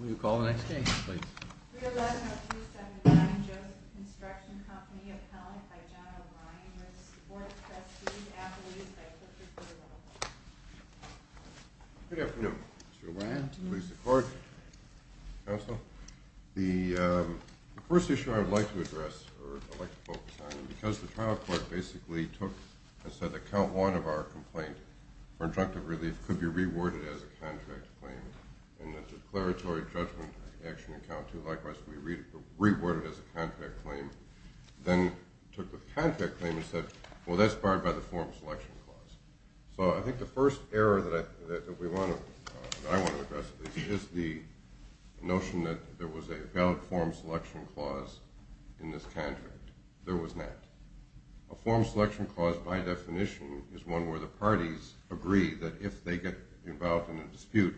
311-279 Joseph Construction Company, appellant by John O'Brien, with the support of Trustees, athletes, and by Clifford Cooperville. Good afternoon. Mr. O'Brien, to the police and court, counsel. The first issue I would like to address, or I'd like to focus on, because the trial court basically took and said that count one of our complaint for injunctive relief could be reworded as a contract claim. And the declaratory judgment action in count two, likewise, could be reworded as a contract claim. Then took the contract claim and said, well, that's barred by the form selection clause. So I think the first error that I want to address is the notion that there was a valid form selection clause in this contract. There was not. A form selection clause, by definition, is one where the parties agree that if they get involved in a dispute,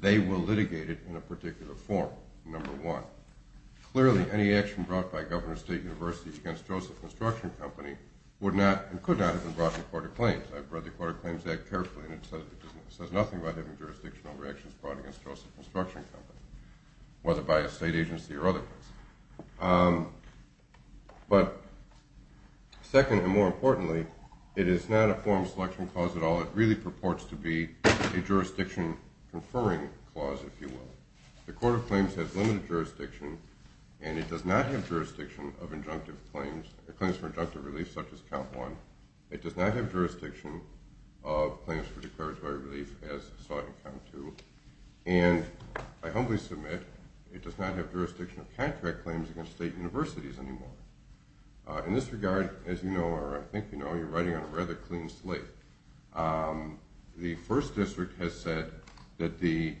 they will litigate it in a particular form, number one. Clearly, any action brought by Governors State University against Joseph Construction Company would not and could not have been brought to the Court of Claims. I've read the Court of Claims Act carefully, and it says nothing about having jurisdictional reactions brought against Joseph Construction Company, whether by a state agency or other. But second and more importantly, it is not a form selection clause at all. It really purports to be a jurisdiction conferring clause, if you will. The Court of Claims has limited jurisdiction, and it does not have jurisdiction of injunctive claims, claims for injunctive relief such as count one. It does not have jurisdiction of claims for declaratory relief as sought in count two. And I humbly submit, it does not have jurisdiction of contract claims against state universities anymore. In this regard, as you know, or I think you know, you're writing on a rather clean slate. The First District has said that the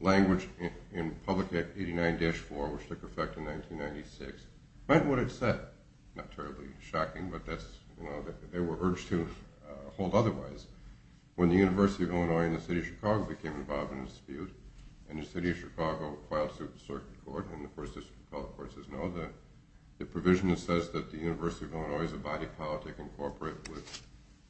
language in Public Act 89-4, which took effect in 1996, meant what it said. Not terribly shocking, but they were urged to hold otherwise. When the University of Illinois and the City of Chicago became involved in a dispute, and the City of Chicago filed suit in Circuit Court, and the First District of Color Courts says no, the provision that says that the University of Illinois is a body of politic incorporated with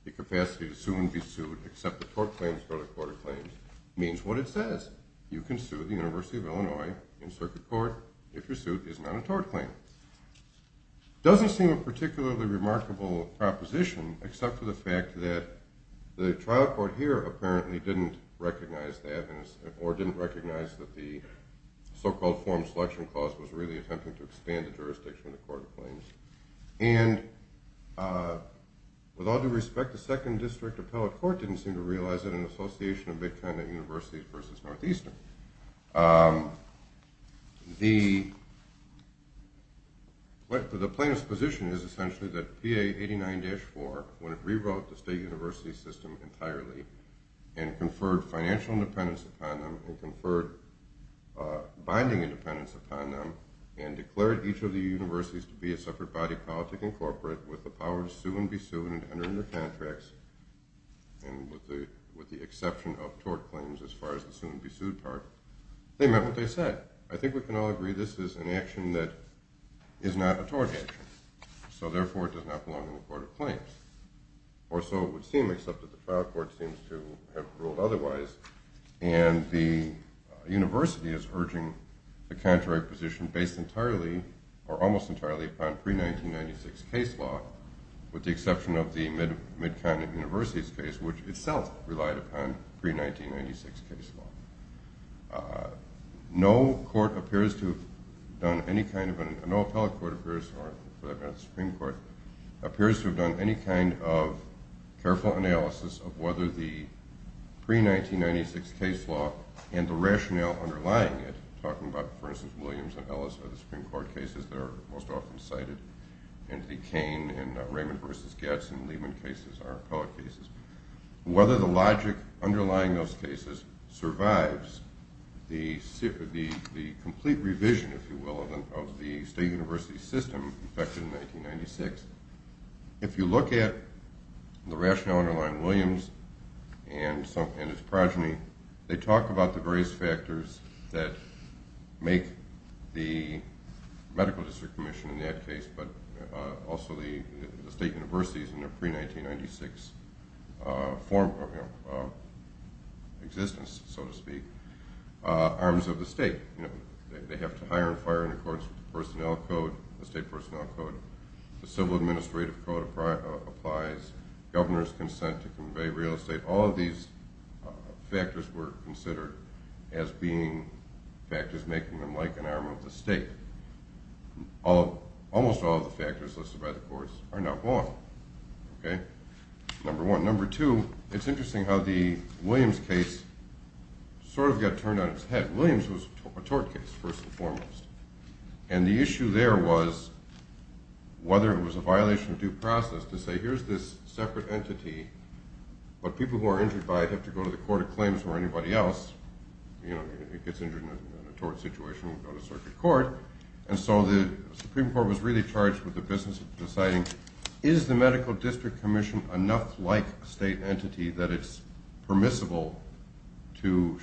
the capacity to soon be sued except the tort claims for the Court of Claims means what it says. You can sue the University of Illinois in Circuit Court if your suit is not a tort claim. It doesn't seem a particularly remarkable proposition except for the fact that the trial court here apparently didn't recognize that or didn't recognize that the so-called form selection clause was really attempting to expand the jurisdiction of the Court of Claims. And with all due respect, the Second District Appellate Court didn't seem to realize that an association of big kind at universities versus Northeastern. The plaintiff's position is essentially that PA 89-4, when it rewrote the state university system entirely and conferred financial independence upon them and conferred binding independence upon them and declared each of the universities to be a separate body of politic incorporated with the power to sue and be sued and with the exception of tort claims as far as the soon be sued part, they meant what they said. I think we can all agree this is an action that is not a tort action. So therefore it does not belong in the Court of Claims. Or so it would seem except that the trial court seems to have ruled otherwise and the university is urging the contrary position based entirely or almost entirely upon pre-1996 case law with the exception of the mid kind at universities case which itself relied upon pre-1996 case law. No court appears to have done any kind of, no appellate court appears, or the Supreme Court appears to have done any kind of careful analysis of whether the pre-1996 case law and the rationale underlying it, talking about for instance Williams and Ellis are the Supreme Court cases that are most often cited and the Cain and Raymond versus Gadsden Lehman cases are appellate cases. Whether the logic underlying those cases survives the complete revision, if you will, of the state university system effected in 1996. If you look at the rationale underlying Williams and his progeny, they talk about the various factors that make the medical district commission in that case but also the state universities in their pre-1996 existence, so to speak, arms of the state. They have to hire and fire in accordance with the state personnel code, the civil administrative code applies, governor's consent to convey real estate, all of these factors were considered as being factors making them like an arm of the state. Almost all of the factors listed by the courts are now gone. Number one. Number two, it's interesting how the Williams case sort of got turned on its head. Williams was a tort case first and foremost and the issue there was whether it was a violation of due process to say here's this separate entity but people who are injured by it have to go to the court of claims where anybody else gets injured in a tort situation and go to circuit court. And so the Supreme Court was really charged with the business of deciding is the medical district commission enough like a state entity that it's permissible to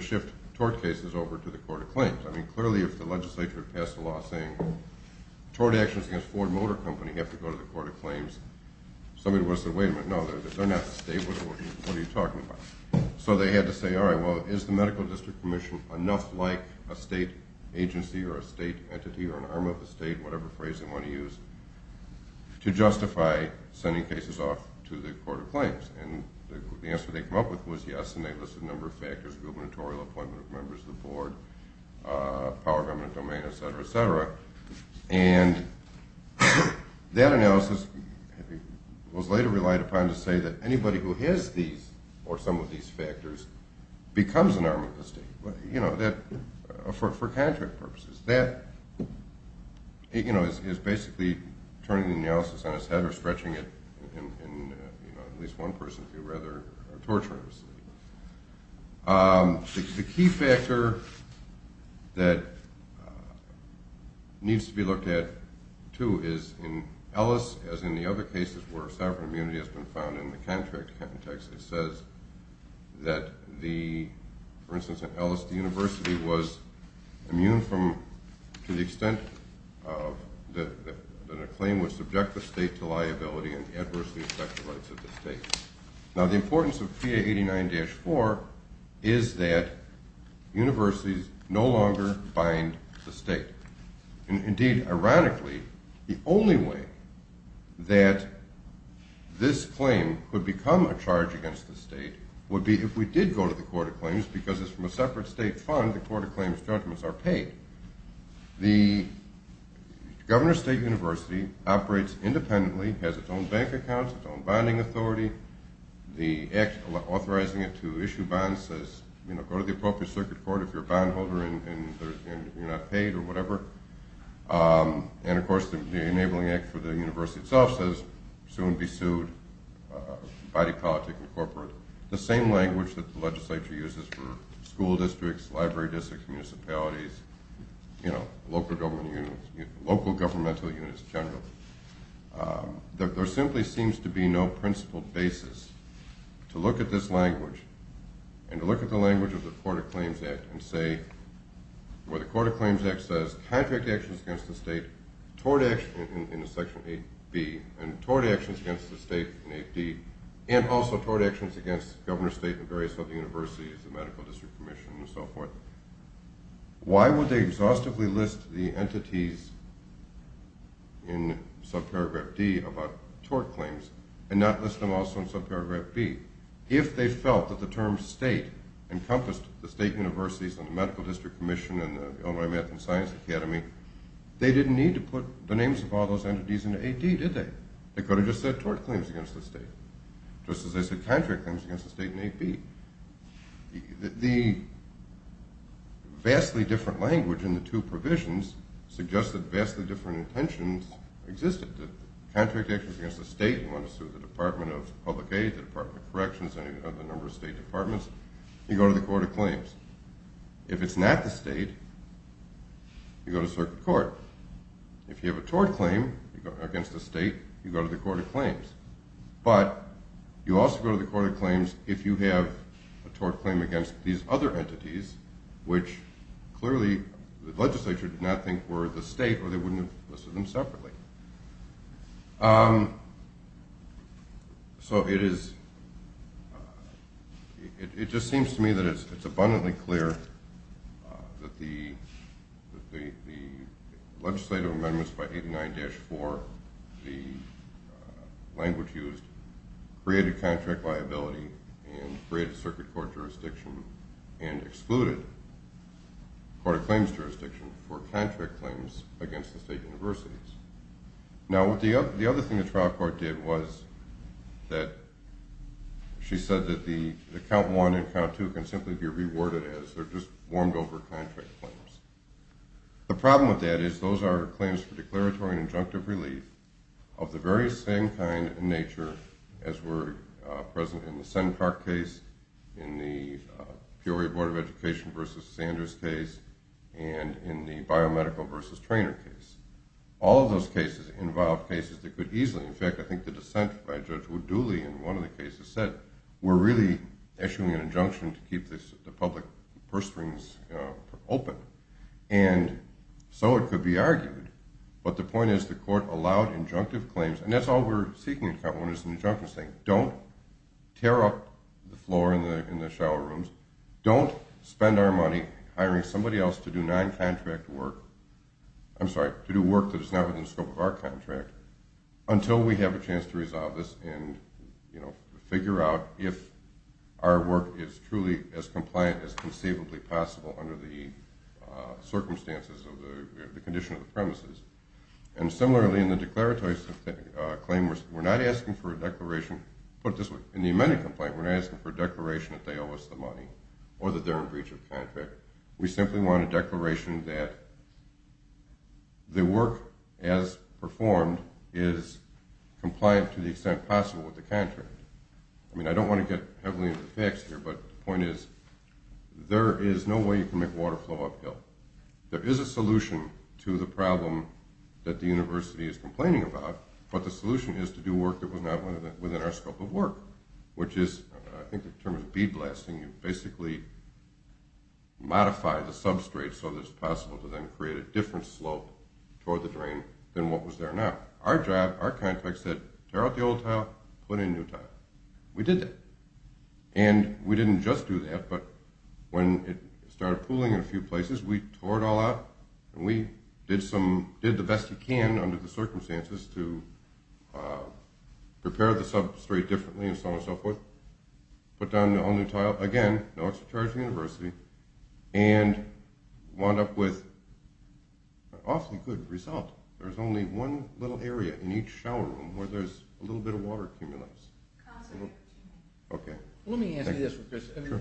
shift tort cases over to the court of claims. I mean clearly if the legislature had passed a law saying tort actions against Ford Motor Company have to go to the court of claims, somebody would have said wait a minute, no, they're not the state, what are you talking about? So they had to say all right, well, is the medical district commission enough like a state agency or a state entity or an arm of the state, whatever phrase they want to use, to justify sending cases off to the court of claims? And the answer they came up with was yes and they listed a number of factors, gubernatorial appointment of members of the board, power government domain, et cetera, et cetera. And that analysis was later relied upon to say that anybody who has these or some of these factors becomes an arm of the state for contract purposes. That is basically turning the analysis on its head or stretching it in at least one person if you rather are torturing a city. The key factor that needs to be looked at too is in Ellis, as in the other cases where sovereign immunity has been found in the contract context, it says that the, for instance, in Ellis the university was immune from to the extent that a claim would subject the state to liability and adversely affect the rights of the state. Now the importance of PA 89-4 is that universities no longer bind the state. Indeed, ironically, the only way that this claim would become a charge against the state would be if we did go to the court of claims because it's from a separate state fund, the court of claims judgments are paid. The governor of a state university operates independently, has its own bank accounts, its own bonding authority. The act authorizing it to issue bonds says go to the appropriate circuit court if you're a bond holder and you're not paid or whatever. And of course the enabling act for the university itself says soon be sued, body politic and corporate. The same language that the legislature uses for school districts, library districts, municipalities, local governmental units in general. There simply seems to be no principled basis to look at this language and to look at the language of the court of claims act and say, where the court of claims act says contract actions against the state toward action in section 8B and toward actions against the state in 8B and also toward actions against the governor of the state and various other universities, the medical district commission and so forth. Why would they exhaustively list the entities in subparagraph D about tort claims and not list them also in subparagraph B? If they felt that the term state encompassed the state universities and the medical district commission and the Illinois math and science academy, they didn't need to put the names of all those entities in 8B, did they? They could have just said tort claims against the state, just as they said contract claims against the state in 8B. The vastly different language in the two provisions suggests that vastly different intentions existed. The contract actions against the state, you want to sue the Department of Public Aid, the Department of Corrections, any other number of state departments, you go to the court of claims. If it's not the state, you go to circuit court. If you have a tort claim against the state, you go to the court of claims. But you also go to the court of claims if you have a tort claim against these other entities, which clearly the legislature did not think were the state or they wouldn't have listed them separately. So it is, it just seems to me that it's abundantly clear that the legislative amendments by 89-4, the language used, created contract liability and created circuit court jurisdiction and excluded court of claims jurisdiction for contract claims against the state universities. Now the other thing the trial court did was that she said that the count 1 and count 2 can simply be reworded as they're just warmed over contract claims. The problem with that is those are claims for declaratory and injunctive relief of the very same kind in nature as were present in the Senn Park case, in the Peoria Board of Education versus Sanders case, and in the biomedical versus trainer case. All of those cases involved cases that could easily, in fact I think the dissent by Judge Woodley in one of the cases said we're really issuing an injunction to keep the public purse strings open. And so it could be argued, but the point is the court allowed injunctive claims, and that's all we're seeking in count 1 is an injunction saying don't tear up the floor in the shower rooms, don't spend our money hiring somebody else to do non-contract work, I'm sorry, to do work that is not within the scope of our contract until we have a chance to resolve this and figure out if our work is truly as compliant as conceivably possible under the circumstances of the condition of the premises. And similarly in the declaratory claim we're not asking for a declaration, put it this way, in the amended complaint we're not asking for a declaration that they owe us the money or that they're in breach of contract. We simply want a declaration that the work as performed is compliant to the extent possible with the contract. I mean I don't want to get heavily into the facts here, but the point is there is no way you can make water flow uphill. There is a solution to the problem that the university is complaining about, but the solution is to do work that was not within our scope of work, which is, I think the term is beadblasting, you basically modify the substrate so that it's possible to then create a different slope toward the drain than what was there now. Our job, our contract said tear out the old tile, put in new tile. We did that, and we didn't just do that, but when it started pooling in a few places we tore it all out, and we did the best we can under the circumstances to prepare the substrate differently and so on and so forth, put down a new tile, again, no extra charge to the university, and wound up with an awfully good result. There's only one little area in each shower room where there's a little bit of water accumulates. Okay. Let me ask you this, because it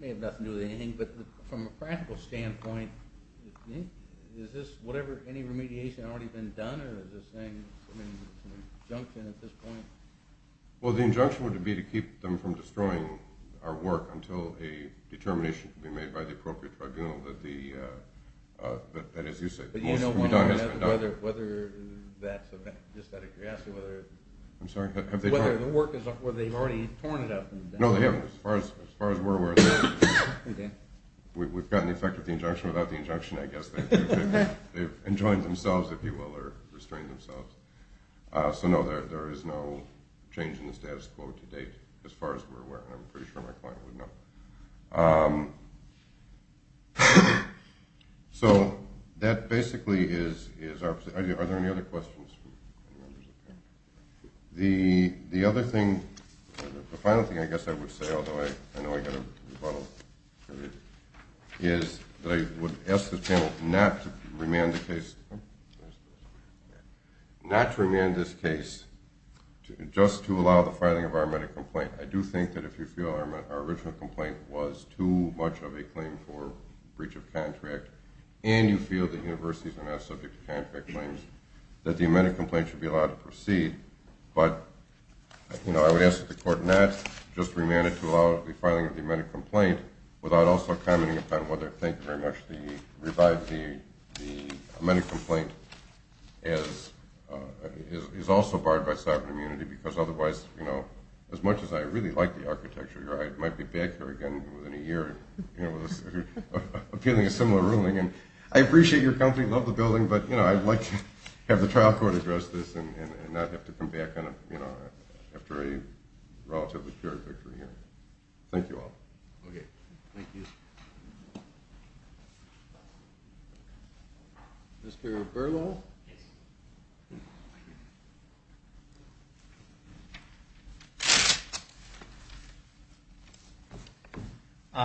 may have nothing to do with anything, but from a practical standpoint, is this whatever, any remediation already been done, or is this an injunction at this point? Well the injunction would be to keep them from destroying our work until a determination can be made by the appropriate tribunal that as you say, most of the work has been done. But you know whether that's, just out of curiosity, whether the work is, whether they've already torn it up. No, they haven't, as far as we're aware. Okay. We've gotten the effect of the injunction without the injunction, I guess. They've enjoined themselves, if you will, or restrained themselves. So no, there is no change in the status quo to date, as far as we're aware, and I'm pretty sure my client would know. So that basically is our position. Are there any other questions from any members of the panel? The other thing, the final thing I guess I would say, although I know I've got a rebuttal period, is that I would ask this panel not to remand the case, not to remand this case just to allow the filing of our medical complaint. I do think that if you feel our original complaint was too much of a claim for breach of contract and you feel that universities are not subject to contract claims, that the amended complaint should be allowed to proceed. But, you know, I would ask that the court not just remand it to allow the filing of the amended complaint without also commenting upon whether, thank you very much, the revised, the amended complaint is also barred by sovereign immunity because otherwise, you know, as much as I really like the architecture here, I might be back here again within a year appealing a similar ruling. And I appreciate your company, love the building, but, you know, I'd like to have the trial court address this and not have to come back after a relatively pure victory here. Thank you all. Okay, thank you. Mr. Berlow.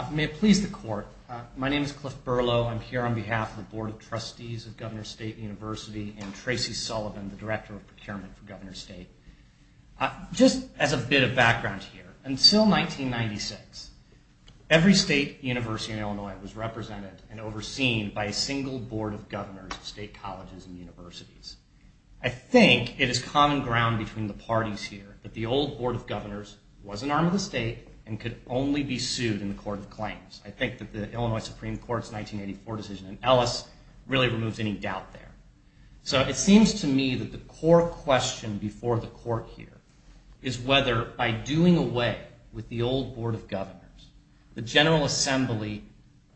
May it please the court. My name is Cliff Berlow. I'm here on behalf of the Board of Trustees of Governor State University and Tracy Sullivan, the Director of Procurement for Governor State. Just as a bit of background here, until 1996, every state university in Illinois was represented and overseen by a single Board of Governors of state colleges and universities. I think it is common ground between the parties here that the old Board of Governors was an arm of the state and could only be sued in the court of claims. I think that the Illinois Supreme Court's 1984 decision in Ellis really removes any doubt there. So it seems to me that the core question before the court here is whether by doing away with the old Board of Governors, the General Assembly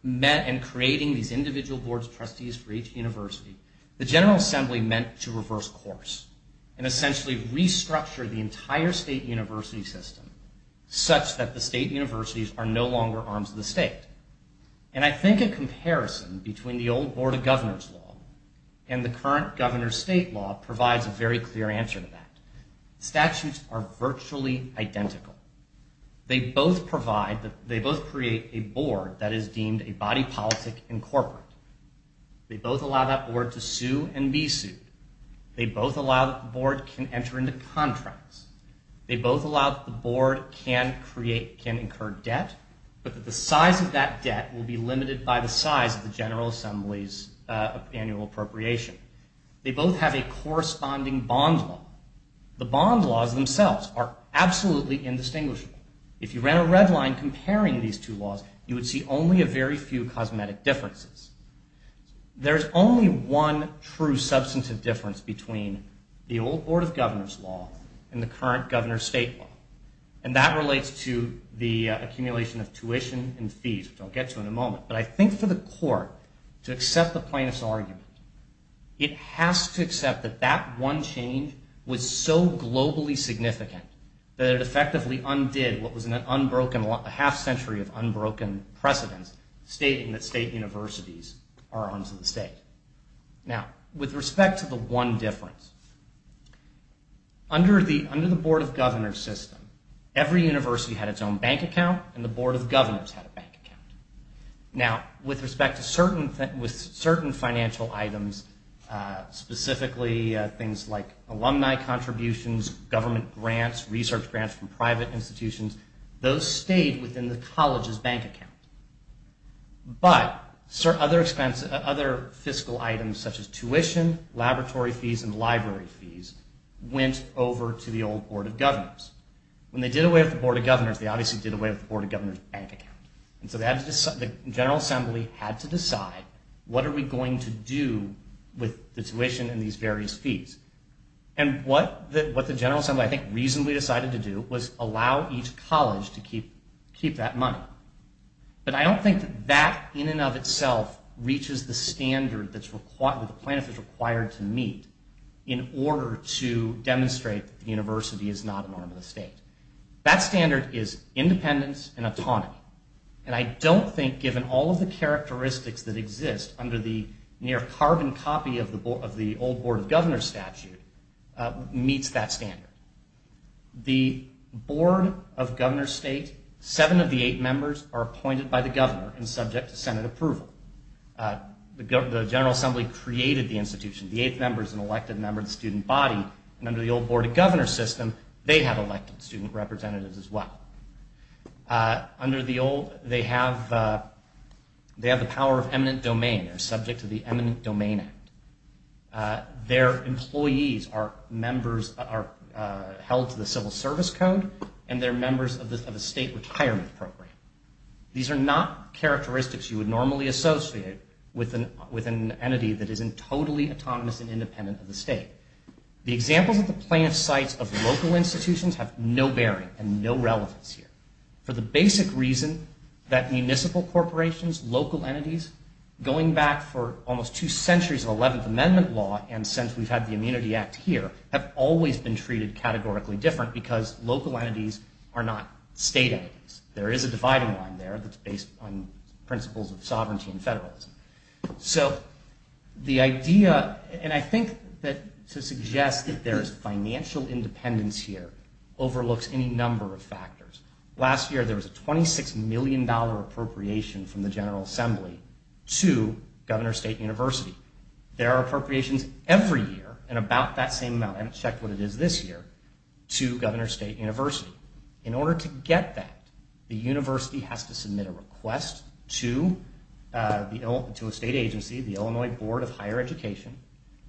met in creating these individual Boards of Trustees for each university, the General Assembly meant to reverse course and essentially restructure the entire state university system such that the state universities are no longer arms of the state. And I think a comparison between the old Board of Governors law and the current Governor State law provides a very clear answer to that. Statutes are virtually identical. They both provide, they both create a Board that is deemed a body politic and corporate. They both allow that Board to sue and be sued. They both allow that the Board can enter into contracts. They both allow that the Board can create, can incur debt, but that the size of that debt will be limited by the size of the General Assembly's annual appropriation. They both have a corresponding bond law. The bond laws themselves are absolutely indistinguishable. If you ran a red line comparing these two laws, you would see only a very few cosmetic differences. There's only one true substantive difference between the old Board of Governors law and the current Governor State law, and that relates to the accumulation of tuition and fees, which I'll get to in a moment. But I think for the court to accept the plaintiff's argument, it has to accept that that one change was so globally significant that it effectively undid what was a half century of unbroken precedence, stating that state universities are arms of the state. Now, with respect to the one difference, under the Board of Governors system, every university had its own bank account, and the Board of Governors had a bank account. Now, with respect to certain financial items, specifically things like alumni contributions, government grants, research grants from private institutions, those stayed within the college's bank account. But other fiscal items such as tuition, laboratory fees, and library fees went over to the old Board of Governors. When they did away with the Board of Governors, they obviously did away with the Board of Governors' bank account. And so the General Assembly had to decide, what are we going to do with the tuition and these various fees? And what the General Assembly, I think, reasonably decided to do was allow each college to keep that money. But I don't think that that in and of itself reaches the standard that the plaintiff is required to meet in order to demonstrate that the university is not an arm of the state. That standard is independence and autonomy. And I don't think, given all of the characteristics that exist under the near carbon copy of the old Board of Governors statute, meets that standard. The Board of Governors' state, seven of the eight members are appointed by the governor and subject to Senate approval. The General Assembly created the institution. The eighth member is an elected member of the student body. And under the old Board of Governors system, they have elected student representatives as well. Under the old, they have the power of eminent domain. They're subject to the Eminent Domain Act. Their employees are held to the Civil Service Code and they're members of a state retirement program. These are not characteristics you would normally associate with an entity that isn't totally autonomous and independent of the state. The examples of the plaintiff's sites of local institutions have no bearing and no relevance here. For the basic reason that municipal corporations, local entities, going back for almost two centuries of 11th Amendment law and since we've had the Immunity Act here, have always been treated categorically different because local entities are not state entities. There is a dividing line there that's based on principles of sovereignty and federalism. So the idea, and I think that to suggest that there is financial independence here, overlooks any number of factors. Last year there was a $26 million appropriation from the General Assembly to Governor State University. There are appropriations every year in about that same amount, and I checked what it is this year, to Governor State University. In order to get that, the university has to submit a request to a state agency, the Illinois Board of Higher Education.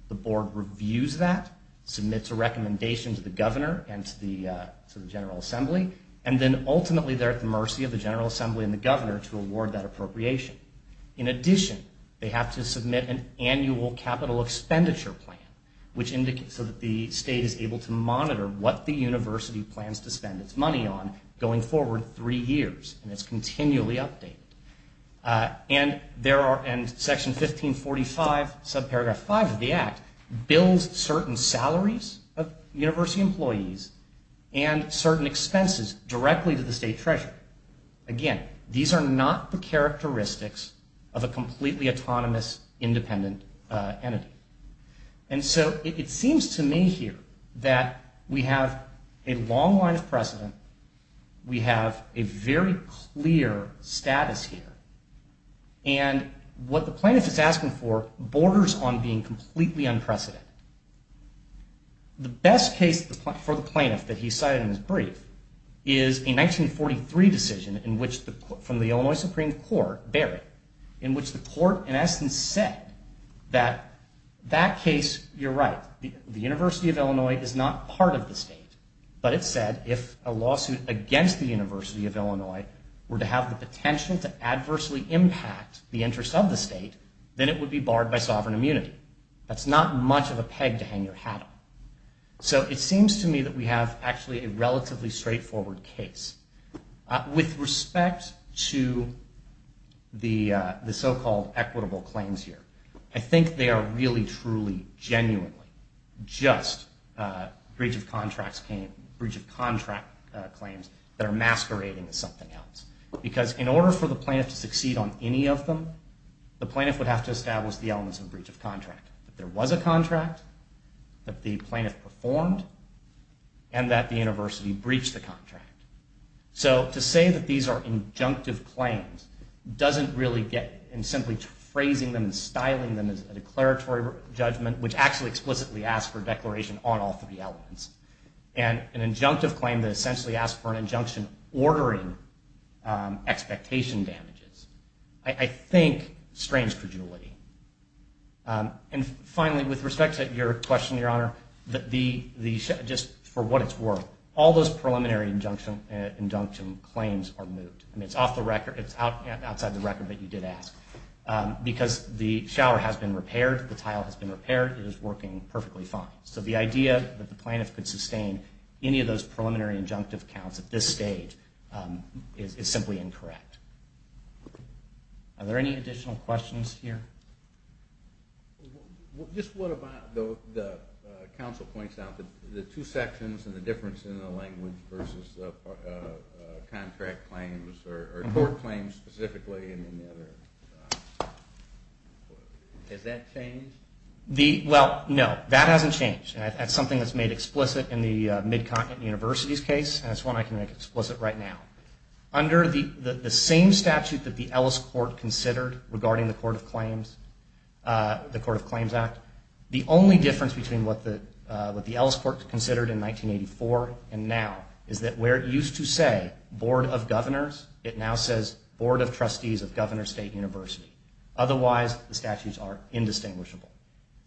The board reviews that, submits a recommendation to the governor and to the General Assembly, and then ultimately they're at the mercy of the General Assembly and the governor to award that appropriation. In addition, they have to submit an annual capital expenditure plan so that the state is able to monitor what the university plans to spend its money on going forward three years, and it's continually updated. And Section 1545, subparagraph 5 of the Act, bills certain salaries of university employees and certain expenses directly to the state treasurer. Again, these are not the characteristics of a completely autonomous, independent entity. And so it seems to me here that we have a long line of precedent, we have a very clear status here, and what the plaintiff is asking for borders on being completely unprecedented. The best case for the plaintiff that he cited in his brief is a 1943 decision from the Illinois Supreme Court, Berry, in which the court, in essence, said that that case, you're right, the University of Illinois is not part of the state, were to have the potential to adversely impact the interest of the state, then it would be barred by sovereign immunity. That's not much of a peg to hang your hat on. So it seems to me that we have, actually, a relatively straightforward case. With respect to the so-called equitable claims here, I think they are really, truly, genuinely, just breach of contract claims that are masquerading as something else. Because in order for the plaintiff to succeed on any of them, the plaintiff would have to establish the elements of a breach of contract. That there was a contract, that the plaintiff performed, and that the university breached the contract. So to say that these are injunctive claims doesn't really get, in simply phrasing them and styling them as a declaratory judgment, which actually explicitly asks for a declaration on all three elements. And an injunctive claim that essentially asks for an injunction ordering expectation damages, I think, strains credulity. And finally, with respect to your question, Your Honor, just for what it's worth, all those preliminary injunction claims are moved. I mean, it's off the record, it's outside the record, but you did ask. Because the shower has been repaired, the tile has been repaired, it is working perfectly fine. So the idea that the plaintiff could sustain any of those preliminary injunctive counts at this stage is simply incorrect. Are there any additional questions here? Just one about the counsel points out that the two sections and the difference in the language versus contract claims or court claims specifically and the other. Has that changed? Well, no, that hasn't changed. That's something that's made explicit in the Mid-Continent Universities case, and it's one I can make explicit right now. Under the same statute that the Ellis Court considered regarding the Court of Claims, the Court of Claims Act, the only difference between what the Ellis Court considered in 1984 and now is that where it used to say Board of Governors, it now says Board of Trustees of Governor State University. Otherwise, the statutes are indistinguishable.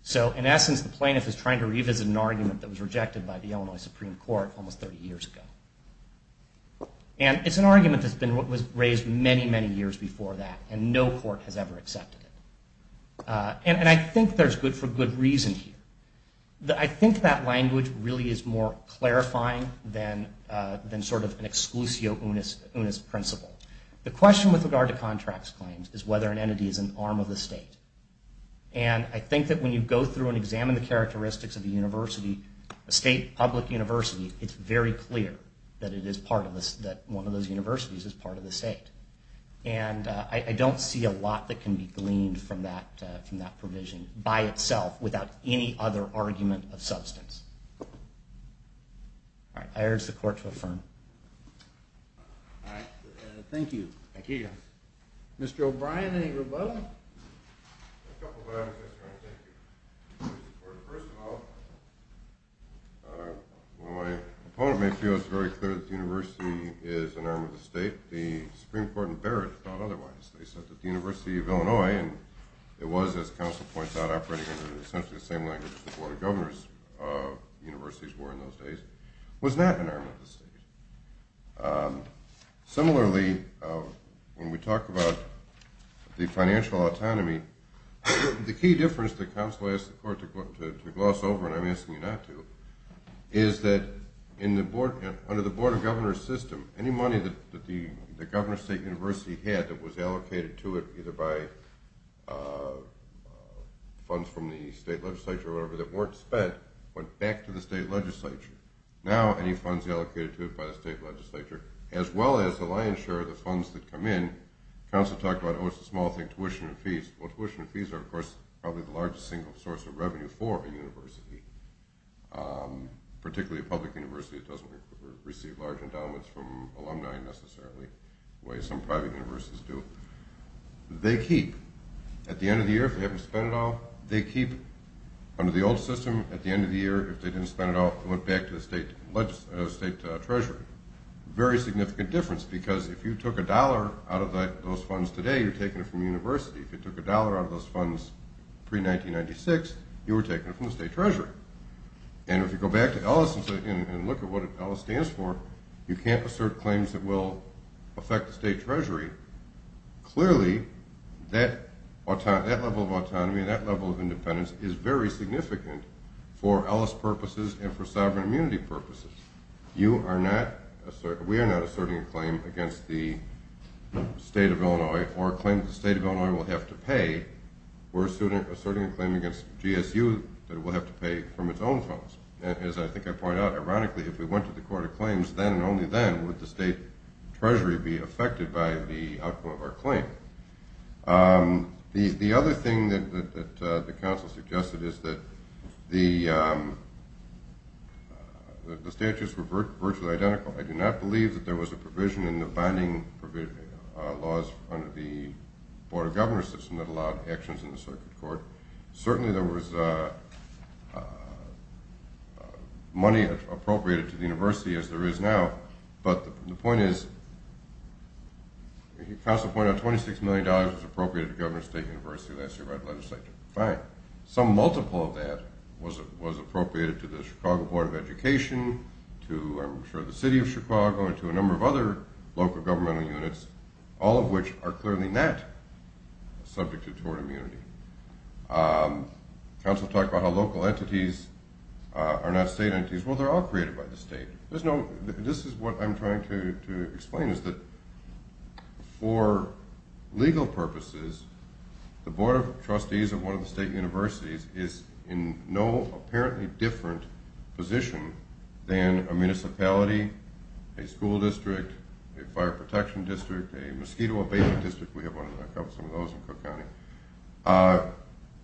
So in essence, the plaintiff is trying to revisit an argument that was rejected by the Illinois Supreme Court almost 30 years ago. And it's an argument that was raised many, many years before that, and no court has ever accepted it. And I think there's good for good reason here. I think that language really is more clarifying than sort of an exclusio unis principle. The question with regard to contracts claims is whether an entity is an arm of the state. And I think that when you go through and examine the characteristics of a university, a state public university, it's very clear that one of those universities is part of the state. And I don't see a lot that can be gleaned from that provision by itself without any other argument of substance. All right, I urge the court to affirm. All right, thank you. Thank you. Mr. O'Brien, any rebuttal? A couple of items, Mr. Wright, thank you. First of all, while my opponent may feel it's very clear that the university is an arm of the state, the Supreme Court in Barrett thought otherwise. They said that the University of Illinois, and it was, as counsel points out, operating in essentially the same language as the Board of Governors universities were in those days, was not an arm of the state. Similarly, when we talk about the financial autonomy, the key difference that counsel asked the court to gloss over, and I'm asking you not to, is that under the Board of Governors system, any money that the Governor State University had that was allocated to it either by funds from the state legislature or whatever that weren't spent went back to the state legislature. Now any funds allocated to it by the state legislature, as well as the lion's share of the funds that come in, counsel talked about, oh, it's a small thing, tuition and fees. Well, tuition and fees are, of course, probably the largest single source of revenue for a university, particularly a public university. It doesn't receive large endowments from alumni necessarily, the way some private universities do. They keep, at the end of the year, if they haven't spent it all, they keep under the old system, at the end of the year, if they didn't spend it all, it went back to the state treasury. Very significant difference, because if you took a dollar out of those funds today, you're taking it from the university. If you took a dollar out of those funds pre-1996, you were taking it from the state treasury. And if you go back to Ellis and look at what Ellis stands for, you can't assert claims that will affect the state treasury. Clearly, that level of autonomy and that level of independence is very significant for Ellis purposes and for sovereign immunity purposes. We are not asserting a claim against the state of Illinois or a claim that the state of Illinois will have to pay. We're asserting a claim against GSU that it will have to pay from its own funds. As I think I pointed out, ironically, if we went to the court of claims, then and only then would the state treasury be affected by the outcome of our claim. The other thing that the council suggested is that the statutes were virtually identical. I do not believe that there was a provision in the bonding laws under the Board of Governors system that allowed actions in the circuit court. Certainly there was money appropriated to the university, as there is now, but the point is, the council pointed out $26 million was appropriated to Governor State University last year by the legislature. Fine. Some multiple of that was appropriated to the Chicago Board of Education, to, I'm sure, the city of Chicago, and to a number of other local governmental units, all of which are clearly not subjected toward immunity. The council talked about how local entities are not state entities. Well, they're all created by the state. This is what I'm trying to explain, is that for legal purposes, the Board of Trustees of one of the state universities is in no apparently different position than a municipality, a school district, a fire protection district, a mosquito abatement district. We have some of those in Cook County.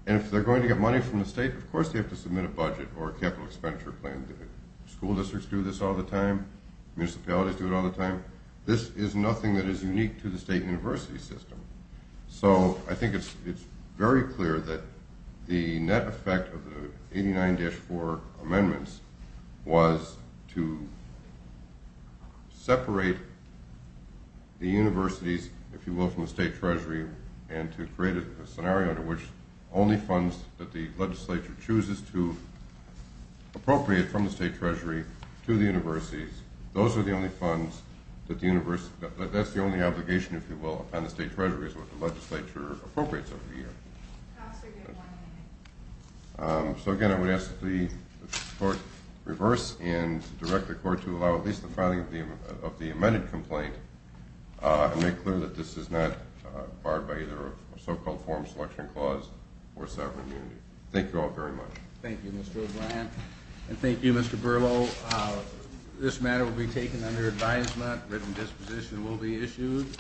And if they're going to get money from the state, of course they have to submit a budget or a capital expenditure plan. School districts do this all the time. Municipalities do it all the time. This is nothing that is unique to the state university system. So I think it's very clear that the net effect of the 89-4 amendments was to separate the universities, if you will, from the state treasury and to create a scenario under which only funds that the legislature chooses to appropriate from the state treasury to the universities, those are the only funds that the university, that's the only obligation, if you will, upon the state treasury is what the legislature appropriates every year. So again, I would ask that the court reverse and direct the court to allow at least the filing of the amended complaint and make clear that this is not barred by either a so-called form selection clause or severed immunity. Thank you all very much. Thank you, Mr. O'Brien. And thank you, Mr. Berlow. This matter will be taken under advisement. Written disposition will be issued.